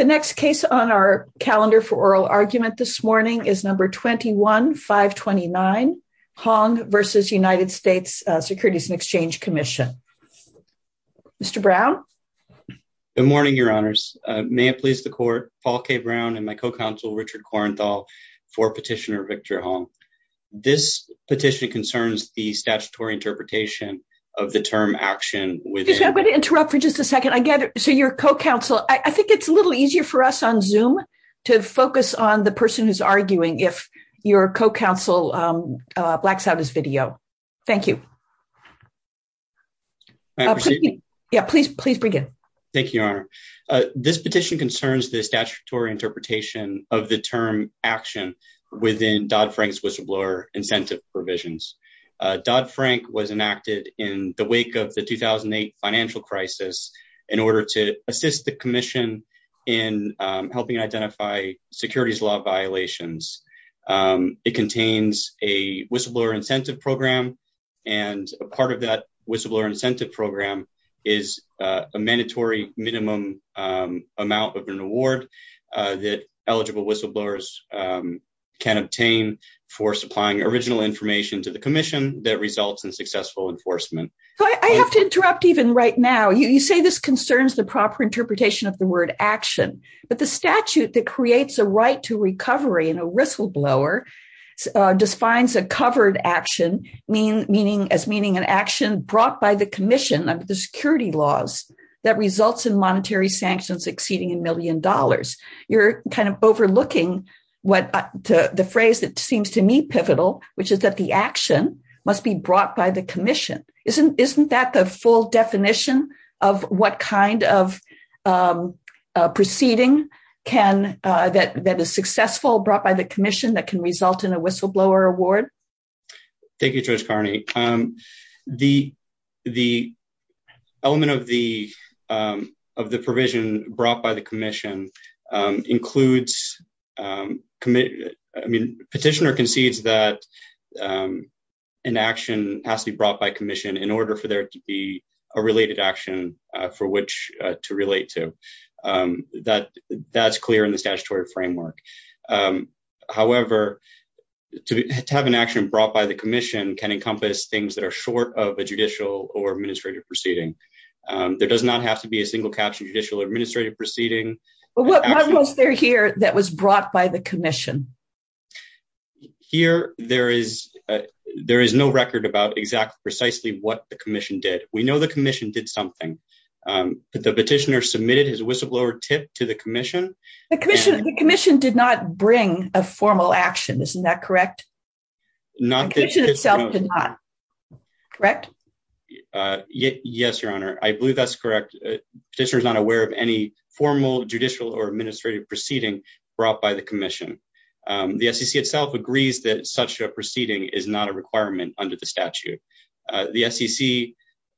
and Exchange Commission. The next case on our calendar for oral argument this morning is No. 21-529, Hong v. United States Securities and Exchange Commission. Mr. Brown? Good morning, Your Honors. May it please the Court, Paul K. Brown and my co-counsel, Richard Korenthal, for Petitioner Victor Hong. This petition concerns the statutory interpretation of the term, action, within- Excuse me. I'm going to interrupt for just a second. I get it. So your co-counsel, I think it's a little easier for us on Zoom to focus on the person who's arguing if your co-counsel blacks out his video. Thank you. May I proceed? Yeah. Please, please begin. Thank you, Your Honor. This petition concerns the statutory interpretation of the term, action, within Dodd-Frank's whistleblower incentive provisions. Dodd-Frank was enacted in the wake of the 2008 financial crisis in order to assist the Commission in helping identify securities law violations. It contains a whistleblower incentive program, and a part of that whistleblower incentive program is a mandatory minimum amount of an award that eligible whistleblowers can obtain for supplying original information to the Commission that results in successful enforcement. I have to interrupt even right now. You say this concerns the proper interpretation of the word, action, but the statute that creates a right to recovery in a whistleblower defines a covered action as meaning an action brought by the Commission under the security laws that results in monetary sanctions exceeding a million dollars. You're kind of overlooking the phrase that seems to me pivotal, which is that the action must be brought by the Commission. Isn't that the full definition of what kind of proceeding that is successful brought by the Commission that can result in a whistleblower award? Thank you, Judge Carney. The element of the provision brought by the Commission includes, I mean, Petitioner concedes that an action has to be brought by Commission in order for there to be a related action for which to relate to. That's clear in the statutory framework, however, to have an action brought by the Commission can encompass things that are short of a judicial or administrative proceeding. There does not have to be a single caption judicial or administrative proceeding. But what was there here that was brought by the Commission? Here there is no record about exactly precisely what the Commission did. We know the Commission did something. The Petitioner submitted his whistleblower tip to the Commission. The Commission did not bring a formal action, isn't that correct? The Commission itself did not, correct? Yes, Your Honor. I believe that's correct. Petitioner is not aware of any formal judicial or administrative proceeding brought by the Commission. The SEC itself agrees that such a proceeding is not a requirement under the statute. The SEC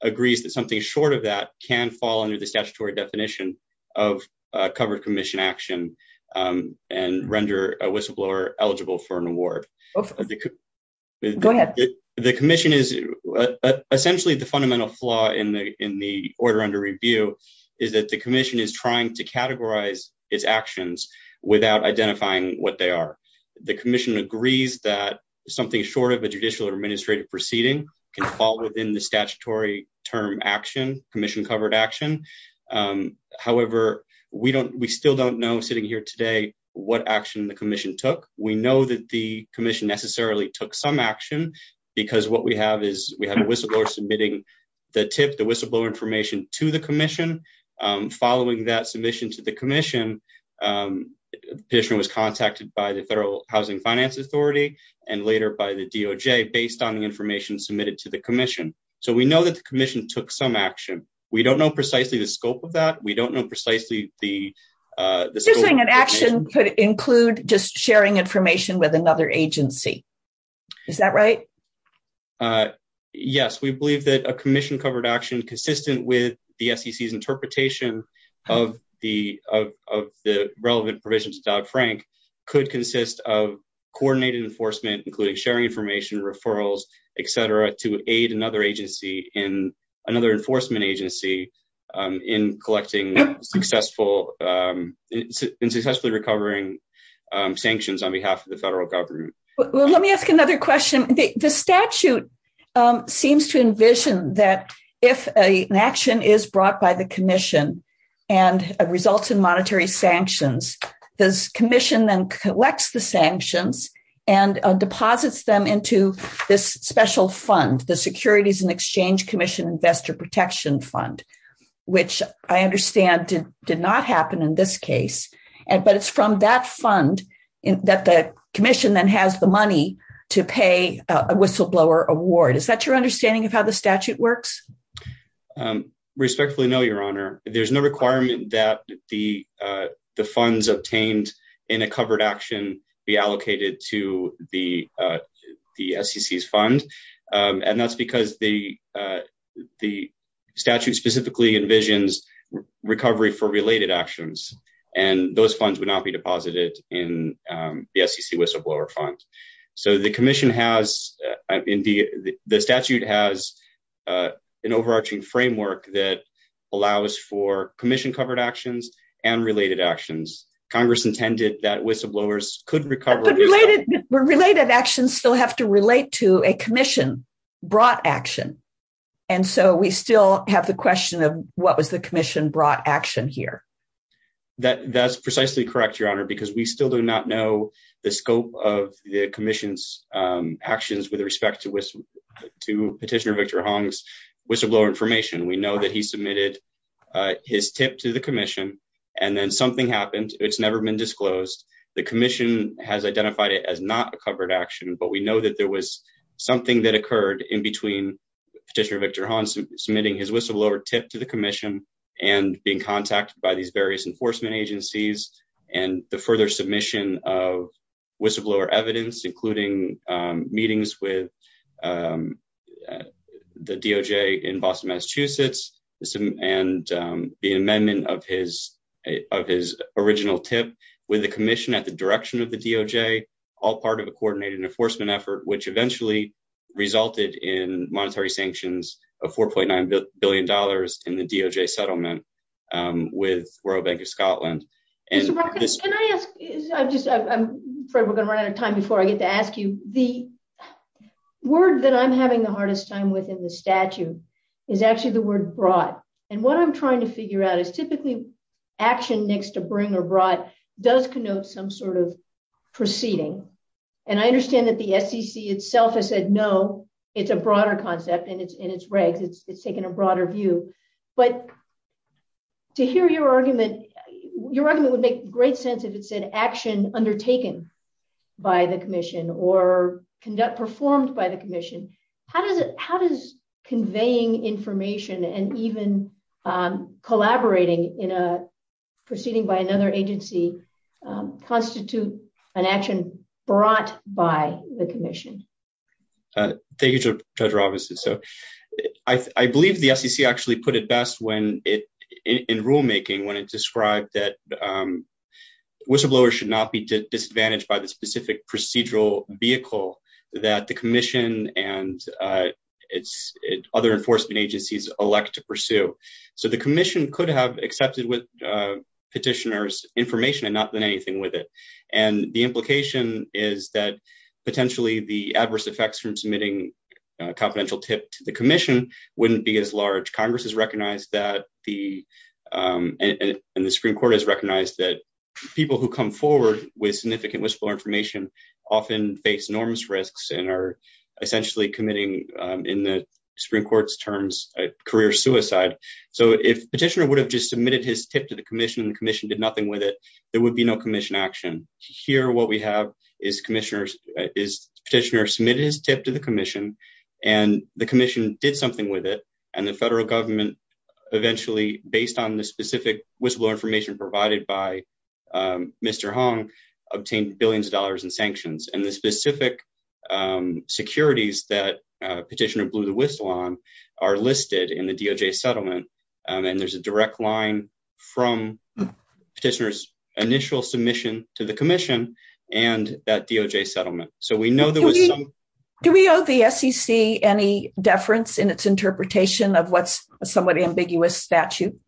agrees that something short of that can fall under the statutory definition of whistleblower eligible for an award. The Commission is essentially the fundamental flaw in the order under review is that the Commission is trying to categorize its actions without identifying what they are. The Commission agrees that something short of a judicial or administrative proceeding can fall within the statutory term action, Commission covered action. However, we still don't know sitting here today what action the Commission took. We know that the Commission necessarily took some action because what we have is we have a whistleblower submitting the tip, the whistleblower information to the Commission. Following that submission to the Commission, Petitioner was contacted by the Federal Housing Finance Authority and later by the DOJ based on the information submitted to the Commission. So we know that the Commission took some action. We don't know precisely the scope of that. We don't know precisely the scope of the action. You're saying an action could include just sharing information with another agency. Is that right? Yes, we believe that a Commission covered action consistent with the SEC's interpretation of the relevant provisions of Dodd-Frank could consist of coordinated enforcement, including sharing information, referrals, et cetera, to aid another agency in another enforcement agency in collecting successful and successfully recovering sanctions on behalf of the federal government. Well, let me ask another question. The statute seems to envision that if an action is brought by the Commission and results in this special fund, the Securities and Exchange Commission Investor Protection Fund, which I understand did not happen in this case, but it's from that fund that the Commission then has the money to pay a whistleblower award. Is that your understanding of how the statute works? Respectfully, no, Your Honor. There's no requirement that the funds obtained in a covered action be allocated to the SEC's fund, and that's because the statute specifically envisions recovery for related actions, and those funds would not be deposited in the SEC whistleblower fund. So the Commission has, the statute has an overarching framework that allows for Commission covered actions and related actions. Congress intended that whistleblowers could recover... Related actions still have to relate to a Commission brought action, and so we still have the question of what was the Commission brought action here. That's precisely correct, Your Honor, because we still do not know the scope of the Commission's actions with respect to Petitioner Victor Hong's whistleblower information. We know that he submitted his tip to the Commission, and then something happened. It's never been disclosed. The Commission has identified it as not a covered action, but we know that there was something that occurred in between Petitioner Victor Hong submitting his whistleblower tip to the Commission and being contacted by these various enforcement agencies, and the further submission of whistleblower evidence, including meetings with the DOJ in Boston, Massachusetts, and the amendment of his original tip with the Commission at the direction of the DOJ, all part of a coordinated enforcement effort, which eventually resulted in monetary sanctions of $4.9 billion in the DOJ settlement with World Bank of Scotland. Mr. Brockett, can I ask, I'm afraid we're going to run out of time before I get to ask you, the word that I'm having the hardest time with in the statute is actually the word brought, and what I'm trying to figure out is typically action next to bring or brought does connote some sort of proceeding, and I understand that the SEC itself has said no, it's a broader concept, and it's in its regs, it's taken a broader view, but to hear your argument, your argument would make great sense if it said action undertaken by the Commission or performed by the Commission. How does conveying information and even collaborating in a proceeding by another agency Thank you, Judge Robinson. So I believe the SEC actually put it best when it, in rulemaking, when it described that whistleblowers should not be disadvantaged by the specific procedural vehicle that the Commission and other enforcement agencies elect to pursue. So the Commission could have accepted with petitioners information and not anything with it, and the implication is that potentially the adverse effects from submitting confidential tip to the Commission wouldn't be as large. Congress has recognized that, and the Supreme Court has recognized that people who come forward with significant whistleblower information often face enormous risks and are essentially committing, in the Supreme Court's terms, a career suicide. So if petitioner would have just submitted his tip to the Commission, and the Commission did nothing with it, there would be no Commission action. Here what we have is petitioner submitted his tip to the Commission, and the Commission did something with it, and the federal government eventually, based on the specific whistleblower information provided by Mr. Hong, obtained billions of dollars in sanctions. And the specific securities that petitioner blew the whistle on are listed in the DOJ settlement, and there's a from petitioner's initial submission to the Commission and that DOJ settlement. Do we owe the SEC any deference in its interpretation of what's a somewhat ambiguous statute?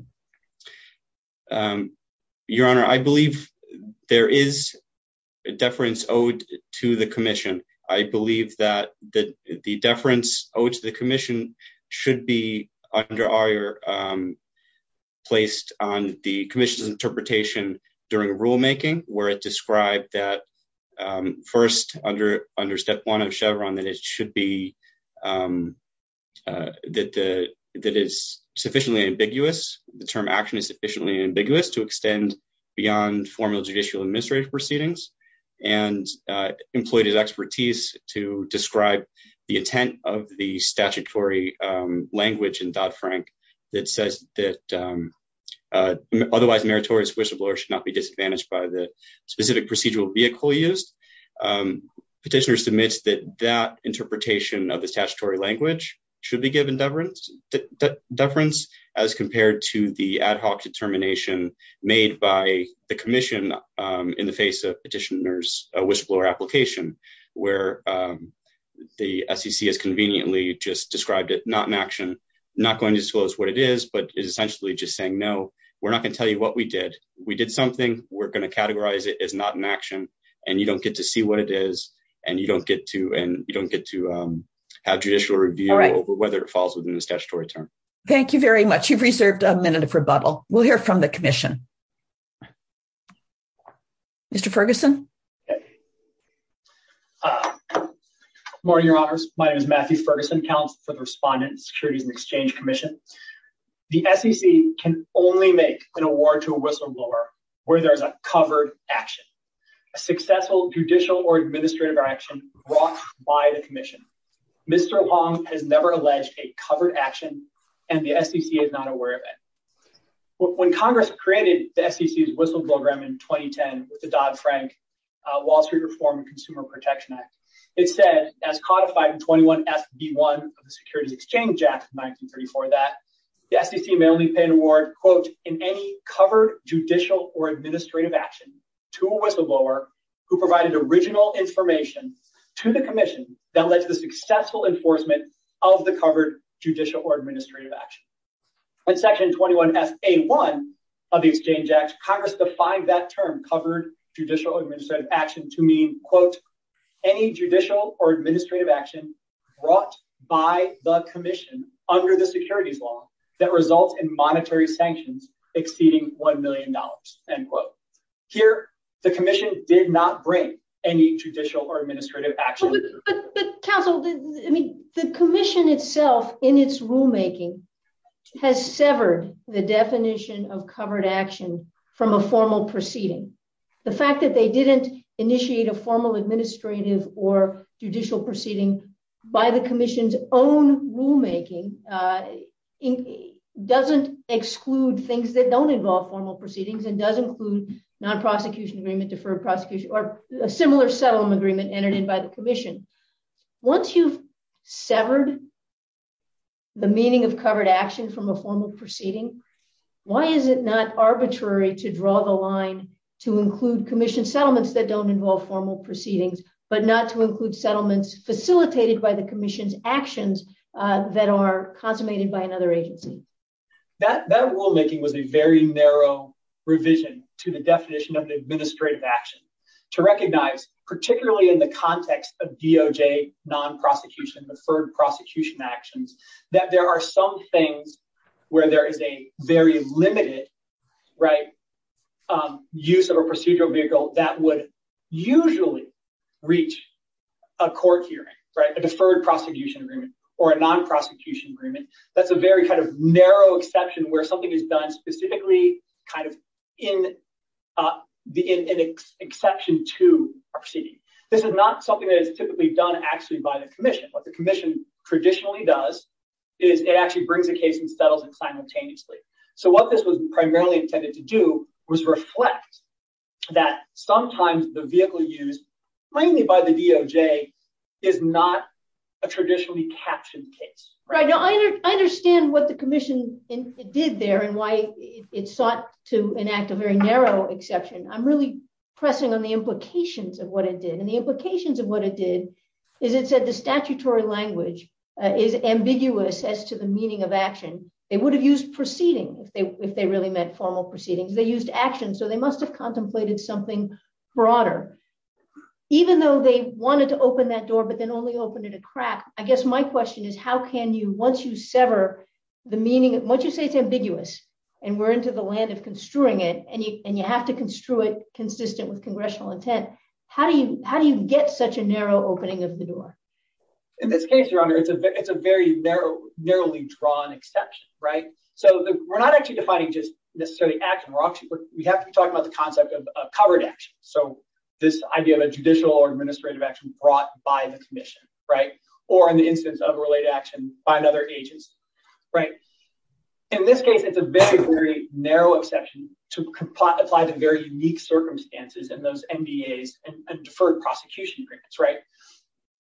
Your Honor, I believe there is deference owed to the Commission. I believe that the placed on the Commission's interpretation during rulemaking, where it described that first, under step one of Chevron, that it should be, that it's sufficiently ambiguous, the term action is sufficiently ambiguous to extend beyond formal judicial administrative proceedings, and employed his expertise to describe the intent of the statutory language in Dodd-Frank that says that otherwise meritorious whistleblower should not be disadvantaged by the specific procedural vehicle used. Petitioner submits that that interpretation of the statutory language should be given deference as compared to the ad hoc determination made by the Commission in the face of petitioner's whistleblower application, where the SEC has conveniently just described it not in action, not going to disclose what it is, but is essentially just saying no, we're not going to tell you what we did. We did something, we're going to categorize it as not in action, and you don't get to see what it is, and you don't get to, and you don't get to have judicial review over whether it falls within the statutory term. Thank you very much. You've reserved a minute of rebuttal. We'll hear from the Commission. Mr. Ferguson. Good morning, Your Honors. My name is Matthew Ferguson, Counselor for the Respondent, Securities and Exchange Commission. The SEC can only make an award to a whistleblower where there's a covered action, a successful judicial or administrative action brought by the Commission. Mr. Huang has never alleged a covered action, and the SEC is not aware of it. When Congress created the SEC's whistleblower program in 2010 with the Dodd-Frank Wall Street Reform and Consumer Protection Act, it said, as codified in 21 SB1 of the Securities Exchange Act of 1934, that the SEC may only pay an award, quote, in any covered judicial or administrative action to a whistleblower who provided original information to the Commission that led to the 21 SA1 of the Exchange Act. Congress defined that term, covered judicial or administrative action, to mean, quote, any judicial or administrative action brought by the Commission under the securities law that results in monetary sanctions exceeding $1 million, end quote. Here, the Commission did not break any judicial or administrative action. But, Counsel, I mean, the Commission itself in its rulemaking has severed the definition of covered action from a formal proceeding. The fact that they didn't initiate a formal administrative or judicial proceeding by the Commission's own rulemaking doesn't exclude things that don't involve formal proceedings and does include non-prosecution agreement, deferred prosecution, or a similar settlement agreement entered in by the Commission. Once you've severed the meaning of covered action from a formal proceeding, why is it not arbitrary to draw the line to include Commission settlements that don't involve formal proceedings but not to include settlements facilitated by the Commission's actions that are consummated by another agency? That rulemaking was a very narrow revision to the definition of an administrative action to recognize, particularly in the context of DOJ non-prosecution, deferred prosecution actions, that there are some things where there is a very limited use of a procedural vehicle that would usually reach a court hearing, a deferred prosecution agreement, or a non-prosecution agreement. That's a very kind of narrow exception where something is done specifically kind of in exception to a proceeding. This is not something that is typically done actually by the Commission. What the Commission traditionally does is it actually brings a case and settles it simultaneously. So what this was primarily intended to do was reflect that sometimes the vehicle used mainly by the DOJ is not a traditionally captioned case. Right, now I understand what the Commission did there and why it sought to enact a very narrow exception. I'm really pressing on the implications of what it did and the implications of what it did is it said the statutory language is ambiguous as to the meaning of action. They would have used proceeding if they really meant formal proceedings. They used action so they must have contemplated something broader. Even though they wanted to crack, I guess my question is how can you, once you sever the meaning, once you say it's ambiguous and we're into the land of construing it and you have to construe it consistent with congressional intent, how do you get such a narrow opening of the door? In this case, Your Honor, it's a very narrow narrowly drawn exception, right? So we're not actually defining just necessarily action. We have to be talking about the concept of covered action. So this idea of a judicial or administrative action brought by the Commission, right? Or in the instance of related action by another agency, right? In this case, it's a very very narrow exception to apply to very unique circumstances in those NDAs and deferred prosecution grants, right?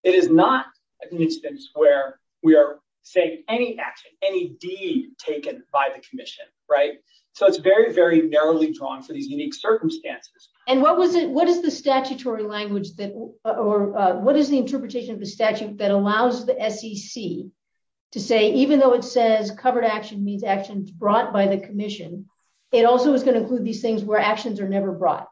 It is not an instance where we are saying any action, any deed taken by the Commission, right? So it's very narrowly drawn for these unique circumstances. And what was it, what is the statutory language that or what is the interpretation of the statute that allows the SEC to say even though it says covered action means actions brought by the Commission, it also is going to include these things where actions are never brought.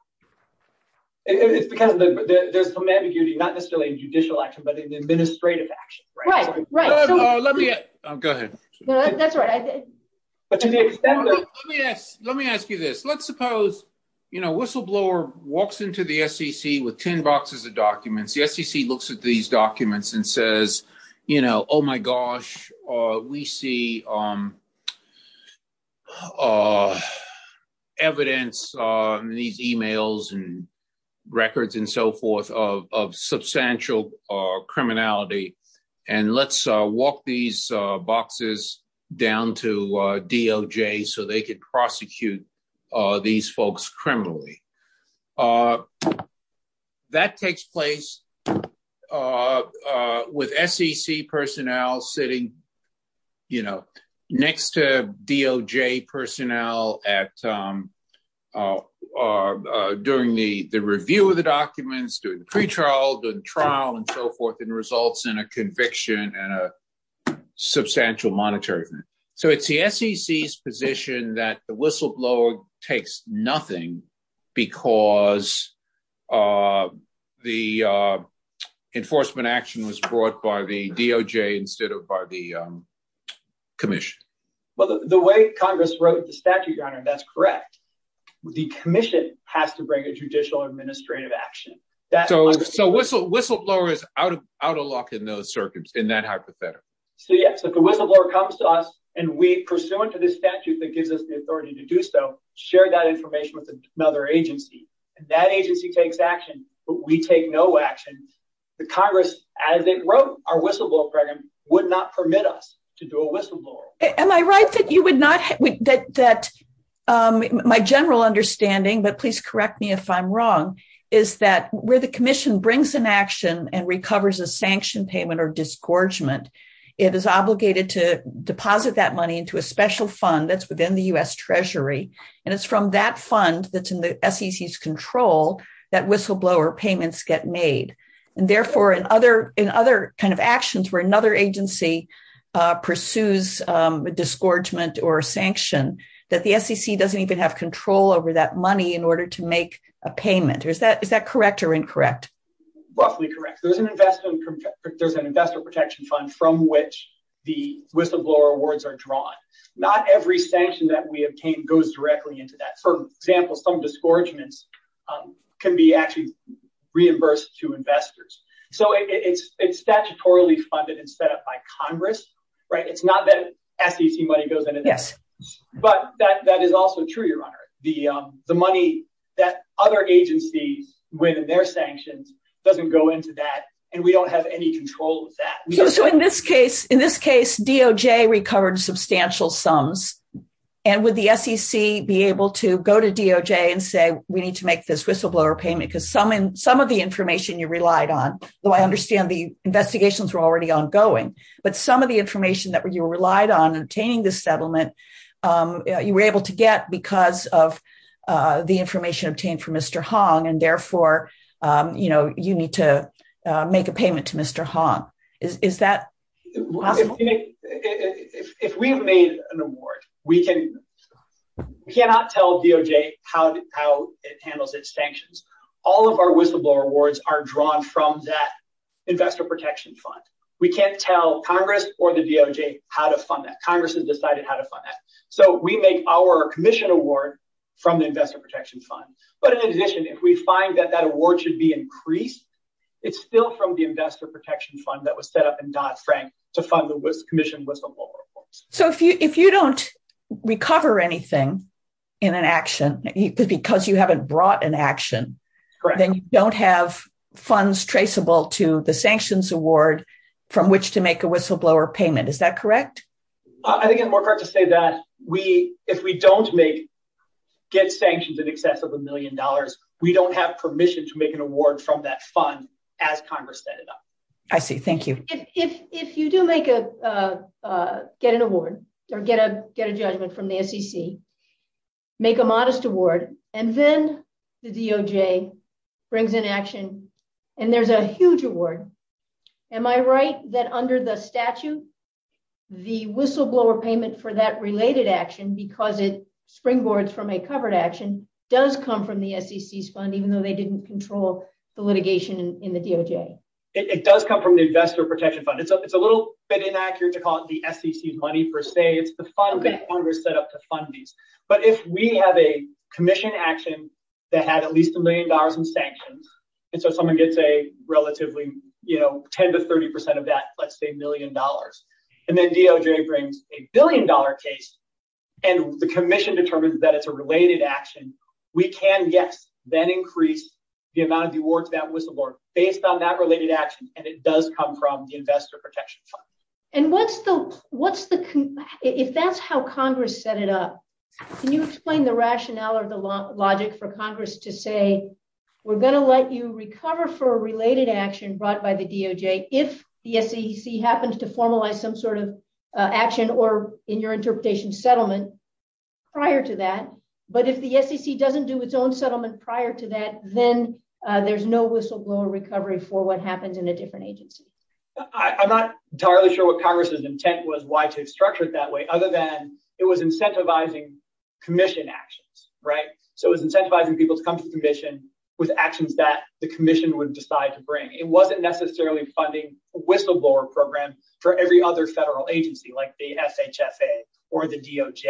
It's because there's some ambiguity, not necessarily a judicial action, but an administrative action, right? Right, right. Let me go ahead. No, that's right. Let me ask you this. Let's suppose, you know, a whistleblower walks into the SEC with 10 boxes of documents. The SEC looks at these documents and says, you know, oh my gosh, we see evidence on these emails and records and so forth of substantial criminality. And let's walk these boxes down to DOJ so they could prosecute these folks criminally. That takes place with SEC personnel sitting, you know, next to DOJ personnel at, during the review of the documents, during the pretrial, the trial and so forth and results in a substantial monetarism. So it's the SEC's position that the whistleblower takes nothing because the enforcement action was brought by the DOJ instead of by the Commission. Well, the way Congress wrote the statute, Your Honor, that's correct. The Commission has to bring a judicial administrative action. So whistleblowers out of lock and no circuits in that hypothetical? So yes, if the whistleblower comes to us and we, pursuant to this statute that gives us the authority to do so, share that information with another agency and that agency takes action, but we take no action, the Congress, as it wrote our whistleblower program, would not permit us to do a whistleblower. Am I right that you would not, that my general understanding, but please correct me if I'm wrong, is that where the Commission brings an action and recovers a sanction payment or disgorgement, it is obligated to deposit that money into a special fund that's within the U.S. Treasury. And it's from that fund that's in the SEC's control that whistleblower payments get made. And therefore in other, in other kind of actions where another agency pursues a disgorgement or sanction, that the SEC doesn't even have control over that money in order to make a payment. Or is that, is that correct or incorrect? Roughly correct. There's an investor, there's an investor protection fund from which the whistleblower awards are drawn. Not every sanction that we obtain goes directly into that. For example, some disgorgements can be actually reimbursed to investors. So it's, it's statutorily funded and set up by Congress, right? It's not that SEC money goes into this, but that, that is also true, Your Honor. The, the money that other agencies win in their sanctions doesn't go into that. And we don't have any control of that. So in this case, in this case, DOJ recovered substantial sums. And would the SEC be able to go to DOJ and say, we need to make this whistleblower payment because some, some of the information you relied on, though I understand the investigations were already ongoing, but some of the information that you were relied on obtaining this settlement, you were able to get because of the information obtained from Mr. Hong and therefore, you know, you need to make a payment to Mr. Hong. Is, is that possible? If we've made an award, we can, we cannot tell DOJ how, how it handles its sanctions. All of our whistleblower awards are drawn from that investor protection fund. We can't tell Congress or the DOJ how to fund that. Congress has decided how to fund that. So we make our commission award from the investor protection fund. But in addition, if we find that that award should be increased, it's still from the investor protection fund that was set up in Dodd Frank to fund the commission whistleblower awards. So if you, if you don't recover anything in an action, because you haven't brought an action, then you don't have funds traceable to the sanctions award from which to make a whistleblower payment. Is that correct? I think it's more correct to say that we, if we don't make, get sanctions in excess of a million dollars, we don't have permission to make an award from that fund as Congress set it up. I see. Thank you. If, if, if you do make a, get an award or get a, get a judgment from the SEC, make a modest award, and then the DOJ brings in action and there's a huge award. Am I right? That under the statute, the whistleblower payment for that related action, because it springboards from a covered action does come from the SEC's fund, even though they didn't control the litigation in the DOJ. It does come from the investor protection fund. It's a little bit inaccurate to call it the SEC money per se. It's the fund that Congress set up to fund these. But if we have a commission action that had at least a million dollars in sanctions, and so someone gets a relatively, you know, 10 to 30% of that, let's say a million dollars. And then DOJ brings a billion dollar case and the commission determines that it's a related action. We can, yes, then increase the amount of the awards that whistleblower based on that related action. And it does come from the investor protection fund. And what's the, if that's how Congress set it up, can you explain the rationale or the logic for Congress to say, we're going to let you recover for a related action brought by the DOJ if the SEC happens to formalize some sort of action or in your interpretation settlement prior to that. But if the SEC doesn't do its own settlement prior to that, then there's no whistleblower recovery for what happens in a different agency. I'm not entirely sure what Congress's intent was, why to structure it that way, other than it was incentivizing commission actions, right? So it was incentivizing people to come to the commission with actions that the commission would decide to bring. It wasn't necessarily funding a whistleblower program for every other federal agency like the SHFA or the DOJ.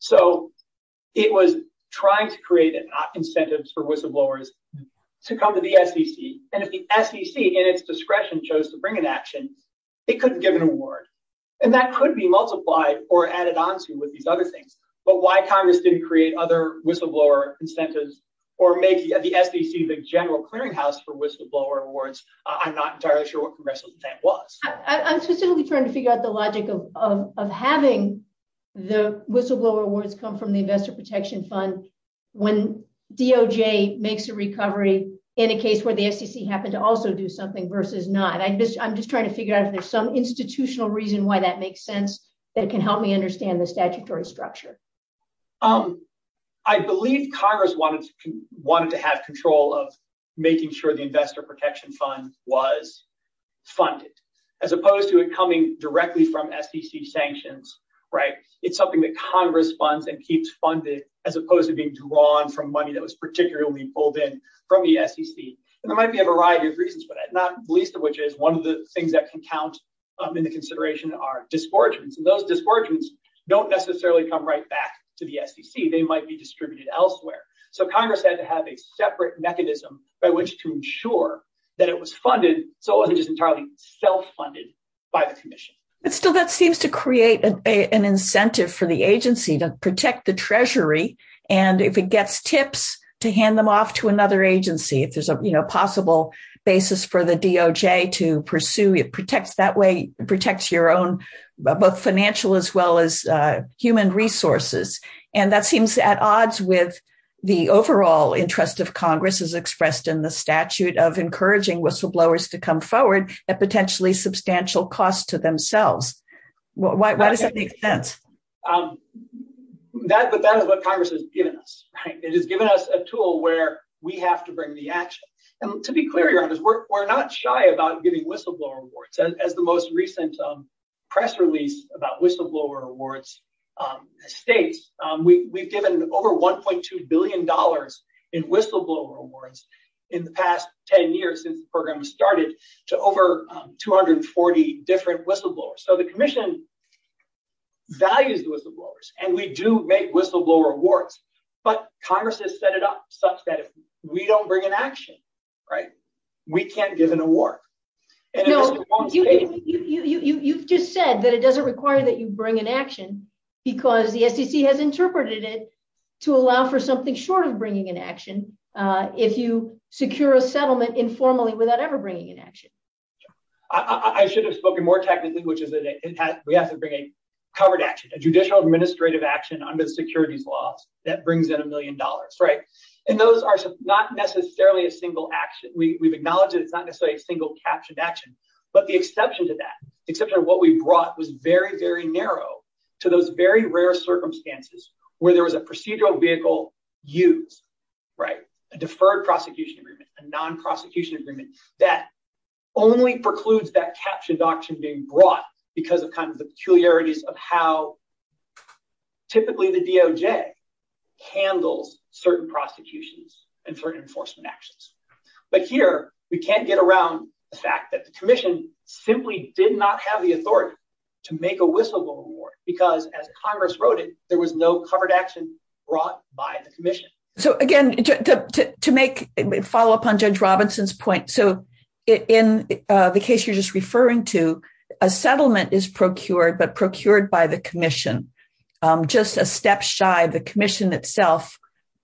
So it was trying to create incentives for whistleblowers to come to the SEC. And if the commission decides to bring an action, it couldn't give an award. And that could be multiplied or added on to with these other things. But why Congress didn't create other whistleblower incentives or make the SEC the general clearing house for whistleblower awards, I'm not entirely sure what Congress's intent was. I'm specifically trying to figure out the logic of having the whistleblower awards come from the investor protection fund when DOJ makes a recovery in a I'm just trying to figure out if there's some institutional reason why that makes sense that it can help me understand the statutory structure. I believe Congress wanted to have control of making sure the investor protection fund was funded as opposed to it coming directly from SEC sanctions, right? It's something that Congress funds and keeps funded as opposed to being drawn from money that was particularly pulled in from the SEC. And there might be a variety of least of which is one of the things that can count in the consideration are disgorgements. And those disgorgements don't necessarily come right back to the SEC, they might be distributed elsewhere. So Congress had to have a separate mechanism by which to ensure that it was funded. So it wasn't just entirely self-funded by the commission. But still, that seems to create an incentive for the agency to protect the treasury. And if it gets tips to hand them off to another agency, if there's a possible basis for the DOJ to pursue, it protects your own both financial as well as human resources. And that seems at odds with the overall interest of Congress as expressed in the statute of encouraging whistleblowers to come forward at potentially substantial costs to themselves. Why does that make sense? That is what Congress has given us, right? It has given us a tool where we have to bring the action. And to be clear, we're not shy about giving whistleblower awards. As the most recent press release about whistleblower awards states, we've given over $1.2 billion in whistleblower awards in the past 10 years since the program started to over 240 different whistleblowers. So the commission values whistleblowers and we do make whistleblower awards. But Congress has set it up such that if we don't bring an action, we can't give an award. You've just said that it doesn't require that you bring an action because the SEC has interpreted it to allow for something short of bringing an action if you secure a settlement informally without ever bringing an action. I should have spoken more technically, which is that we have to bring a covered action, a judicial administrative action under the securities laws that brings in a million dollars, right? And those are not necessarily a single action. We've acknowledged that it's not necessarily a single captioned action, but the exception to that, except for what we brought was very, very narrow to those very rare circumstances where there was a procedural vehicle used, right? A deferred prosecution agreement, a non-prosecution agreement that only precludes that captioned action being brought because of kind of the peculiarities of how typically the DOJ handles certain prosecutions and certain enforcement actions. But here, we can't get around the fact that the commission simply did not have the authority to make a whistleblower award because as Congress wrote it, there was no covered action brought by the commission. So again, to make a follow-up on what you're just referring to, a settlement is procured, but procured by the commission, just a step shy of the commission itself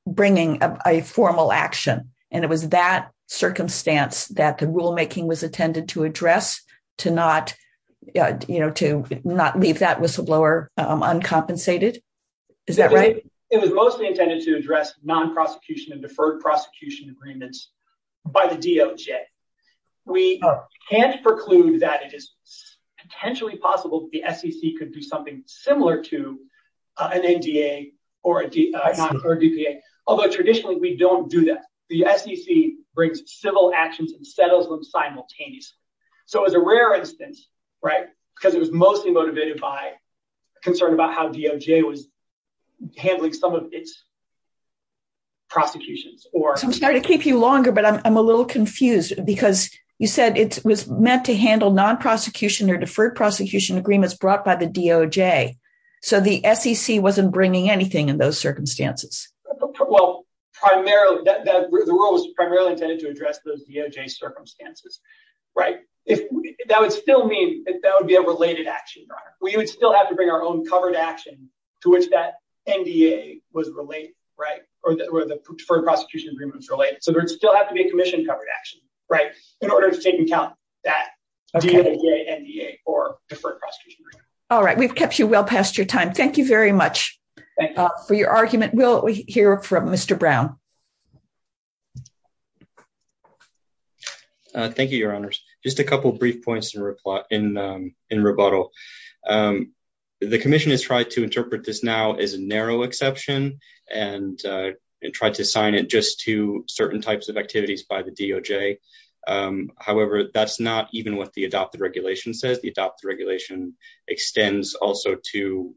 bringing a formal action. And it was that circumstance that the rulemaking was intended to address to not leave that whistleblower uncompensated. Is that right? It was mostly intended to address non-prosecution and deferred prosecution agreements by the DOJ. We can't preclude that it is potentially possible that the SEC could do something similar to an NDA or a DPA, although traditionally we don't do that. The SEC brings civil actions and settles them simultaneously. So it was a rare instance, right? Because it was mostly motivated by concern about how DOJ was handling some of its prosecutions. I'm sorry to keep you longer, but I'm a little confused because you said it was meant to handle non-prosecution or deferred prosecution agreements brought by the DOJ. So the SEC wasn't bringing anything in those circumstances. Well, the rule was primarily intended to address those DOJ circumstances, right? That would still mean that would be a related action. We would still have to bring our own covered action to which that NDA was related, right? Where the deferred prosecution agreement was related. So there'd still have to be a commission covered action, right? In order to take into account that DOJ NDA or deferred prosecution. All right, we've kept you well past your time. Thank you very much for your argument. We'll hear from Mr. Brown. Thank you, your honors. Just a couple of brief points in rebuttal. The commission has tried to sign it just to certain types of activities by the DOJ. However, that's not even what the adopted regulation says. The adopted regulation extends also to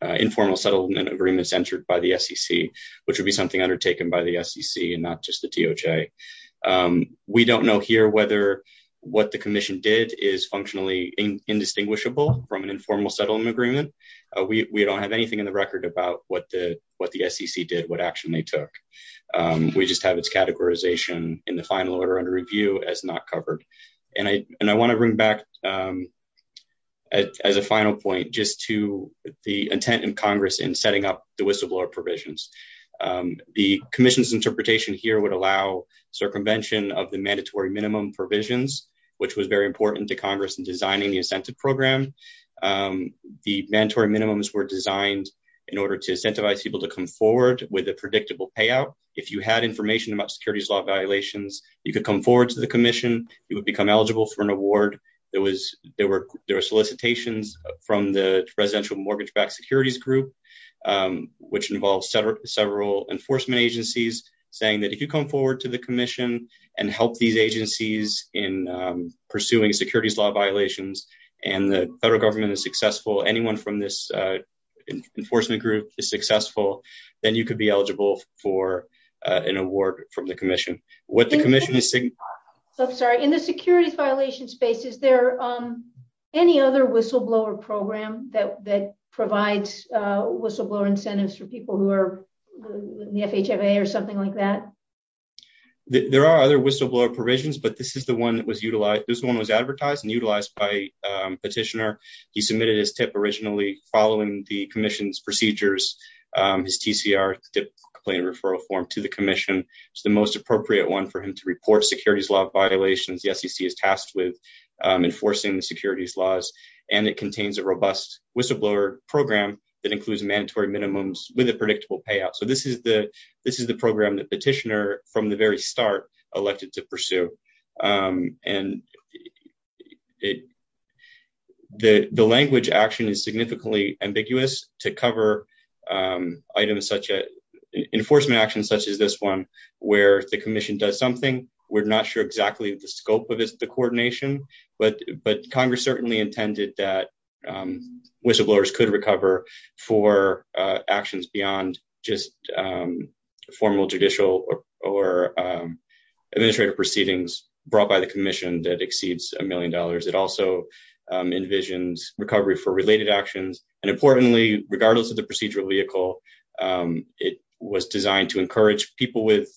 informal settlement agreements entered by the SEC, which would be something undertaken by the SEC and not just the DOJ. We don't know here whether what the commission did is functionally indistinguishable from an informal settlement agreement. We don't have anything in the record about what the SEC did, what action they took. We just have its categorization in the final order under review as not covered. And I want to bring back as a final point, just to the intent in Congress in setting up the whistleblower provisions. The commission's interpretation here would allow circumvention of the mandatory minimum provisions, which was very important to Congress in designing the incentive program. The mandatory minimums were designed in order to incentivize people to come forward with a predictable payout. If you had information about securities law violations, you could come forward to the commission, you would become eligible for an award. There were solicitations from the residential mortgage-backed securities group, which involves several enforcement agencies saying that if you come forward to the commission and help these agencies in pursuing securities law violations, and the federal government is successful, then you could be eligible for an award from the commission. In the securities violations space, is there any other whistleblower program that provides whistleblower incentives for people who are in the FHFA or something like that? There are other whistleblower provisions, but this one was advertised and utilized by a petitioner. He submitted his tip originally following the commission's procedures, his TCR, tip complaint referral form to the commission. It's the most appropriate one for him to report securities law violations the SEC is tasked with enforcing the securities laws. It contains a robust whistleblower program that includes mandatory minimums with a predictable payout. This is the program that petitioner from the very start elected to pursue. And the language action is significantly ambiguous to cover items such as enforcement actions such as this one, where the commission does something. We're not sure exactly the scope of the coordination, but Congress certainly intended that whistleblowers could recover for actions beyond just formal judicial or administrative proceedings brought by the commission that exceeds a million dollars. It also envisions recovery for related actions. And importantly, regardless of the procedural vehicle, it was designed to encourage people with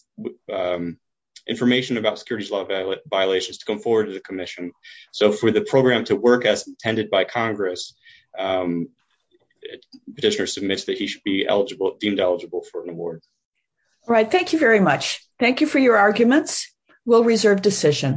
information about securities law violations to come forward to the commission. So for the program to work as intended by Congress, petitioner submits that he should be eligible, deemed eligible for an award. All right. Thank you very much. Thank you for your arguments. We'll reserve decision.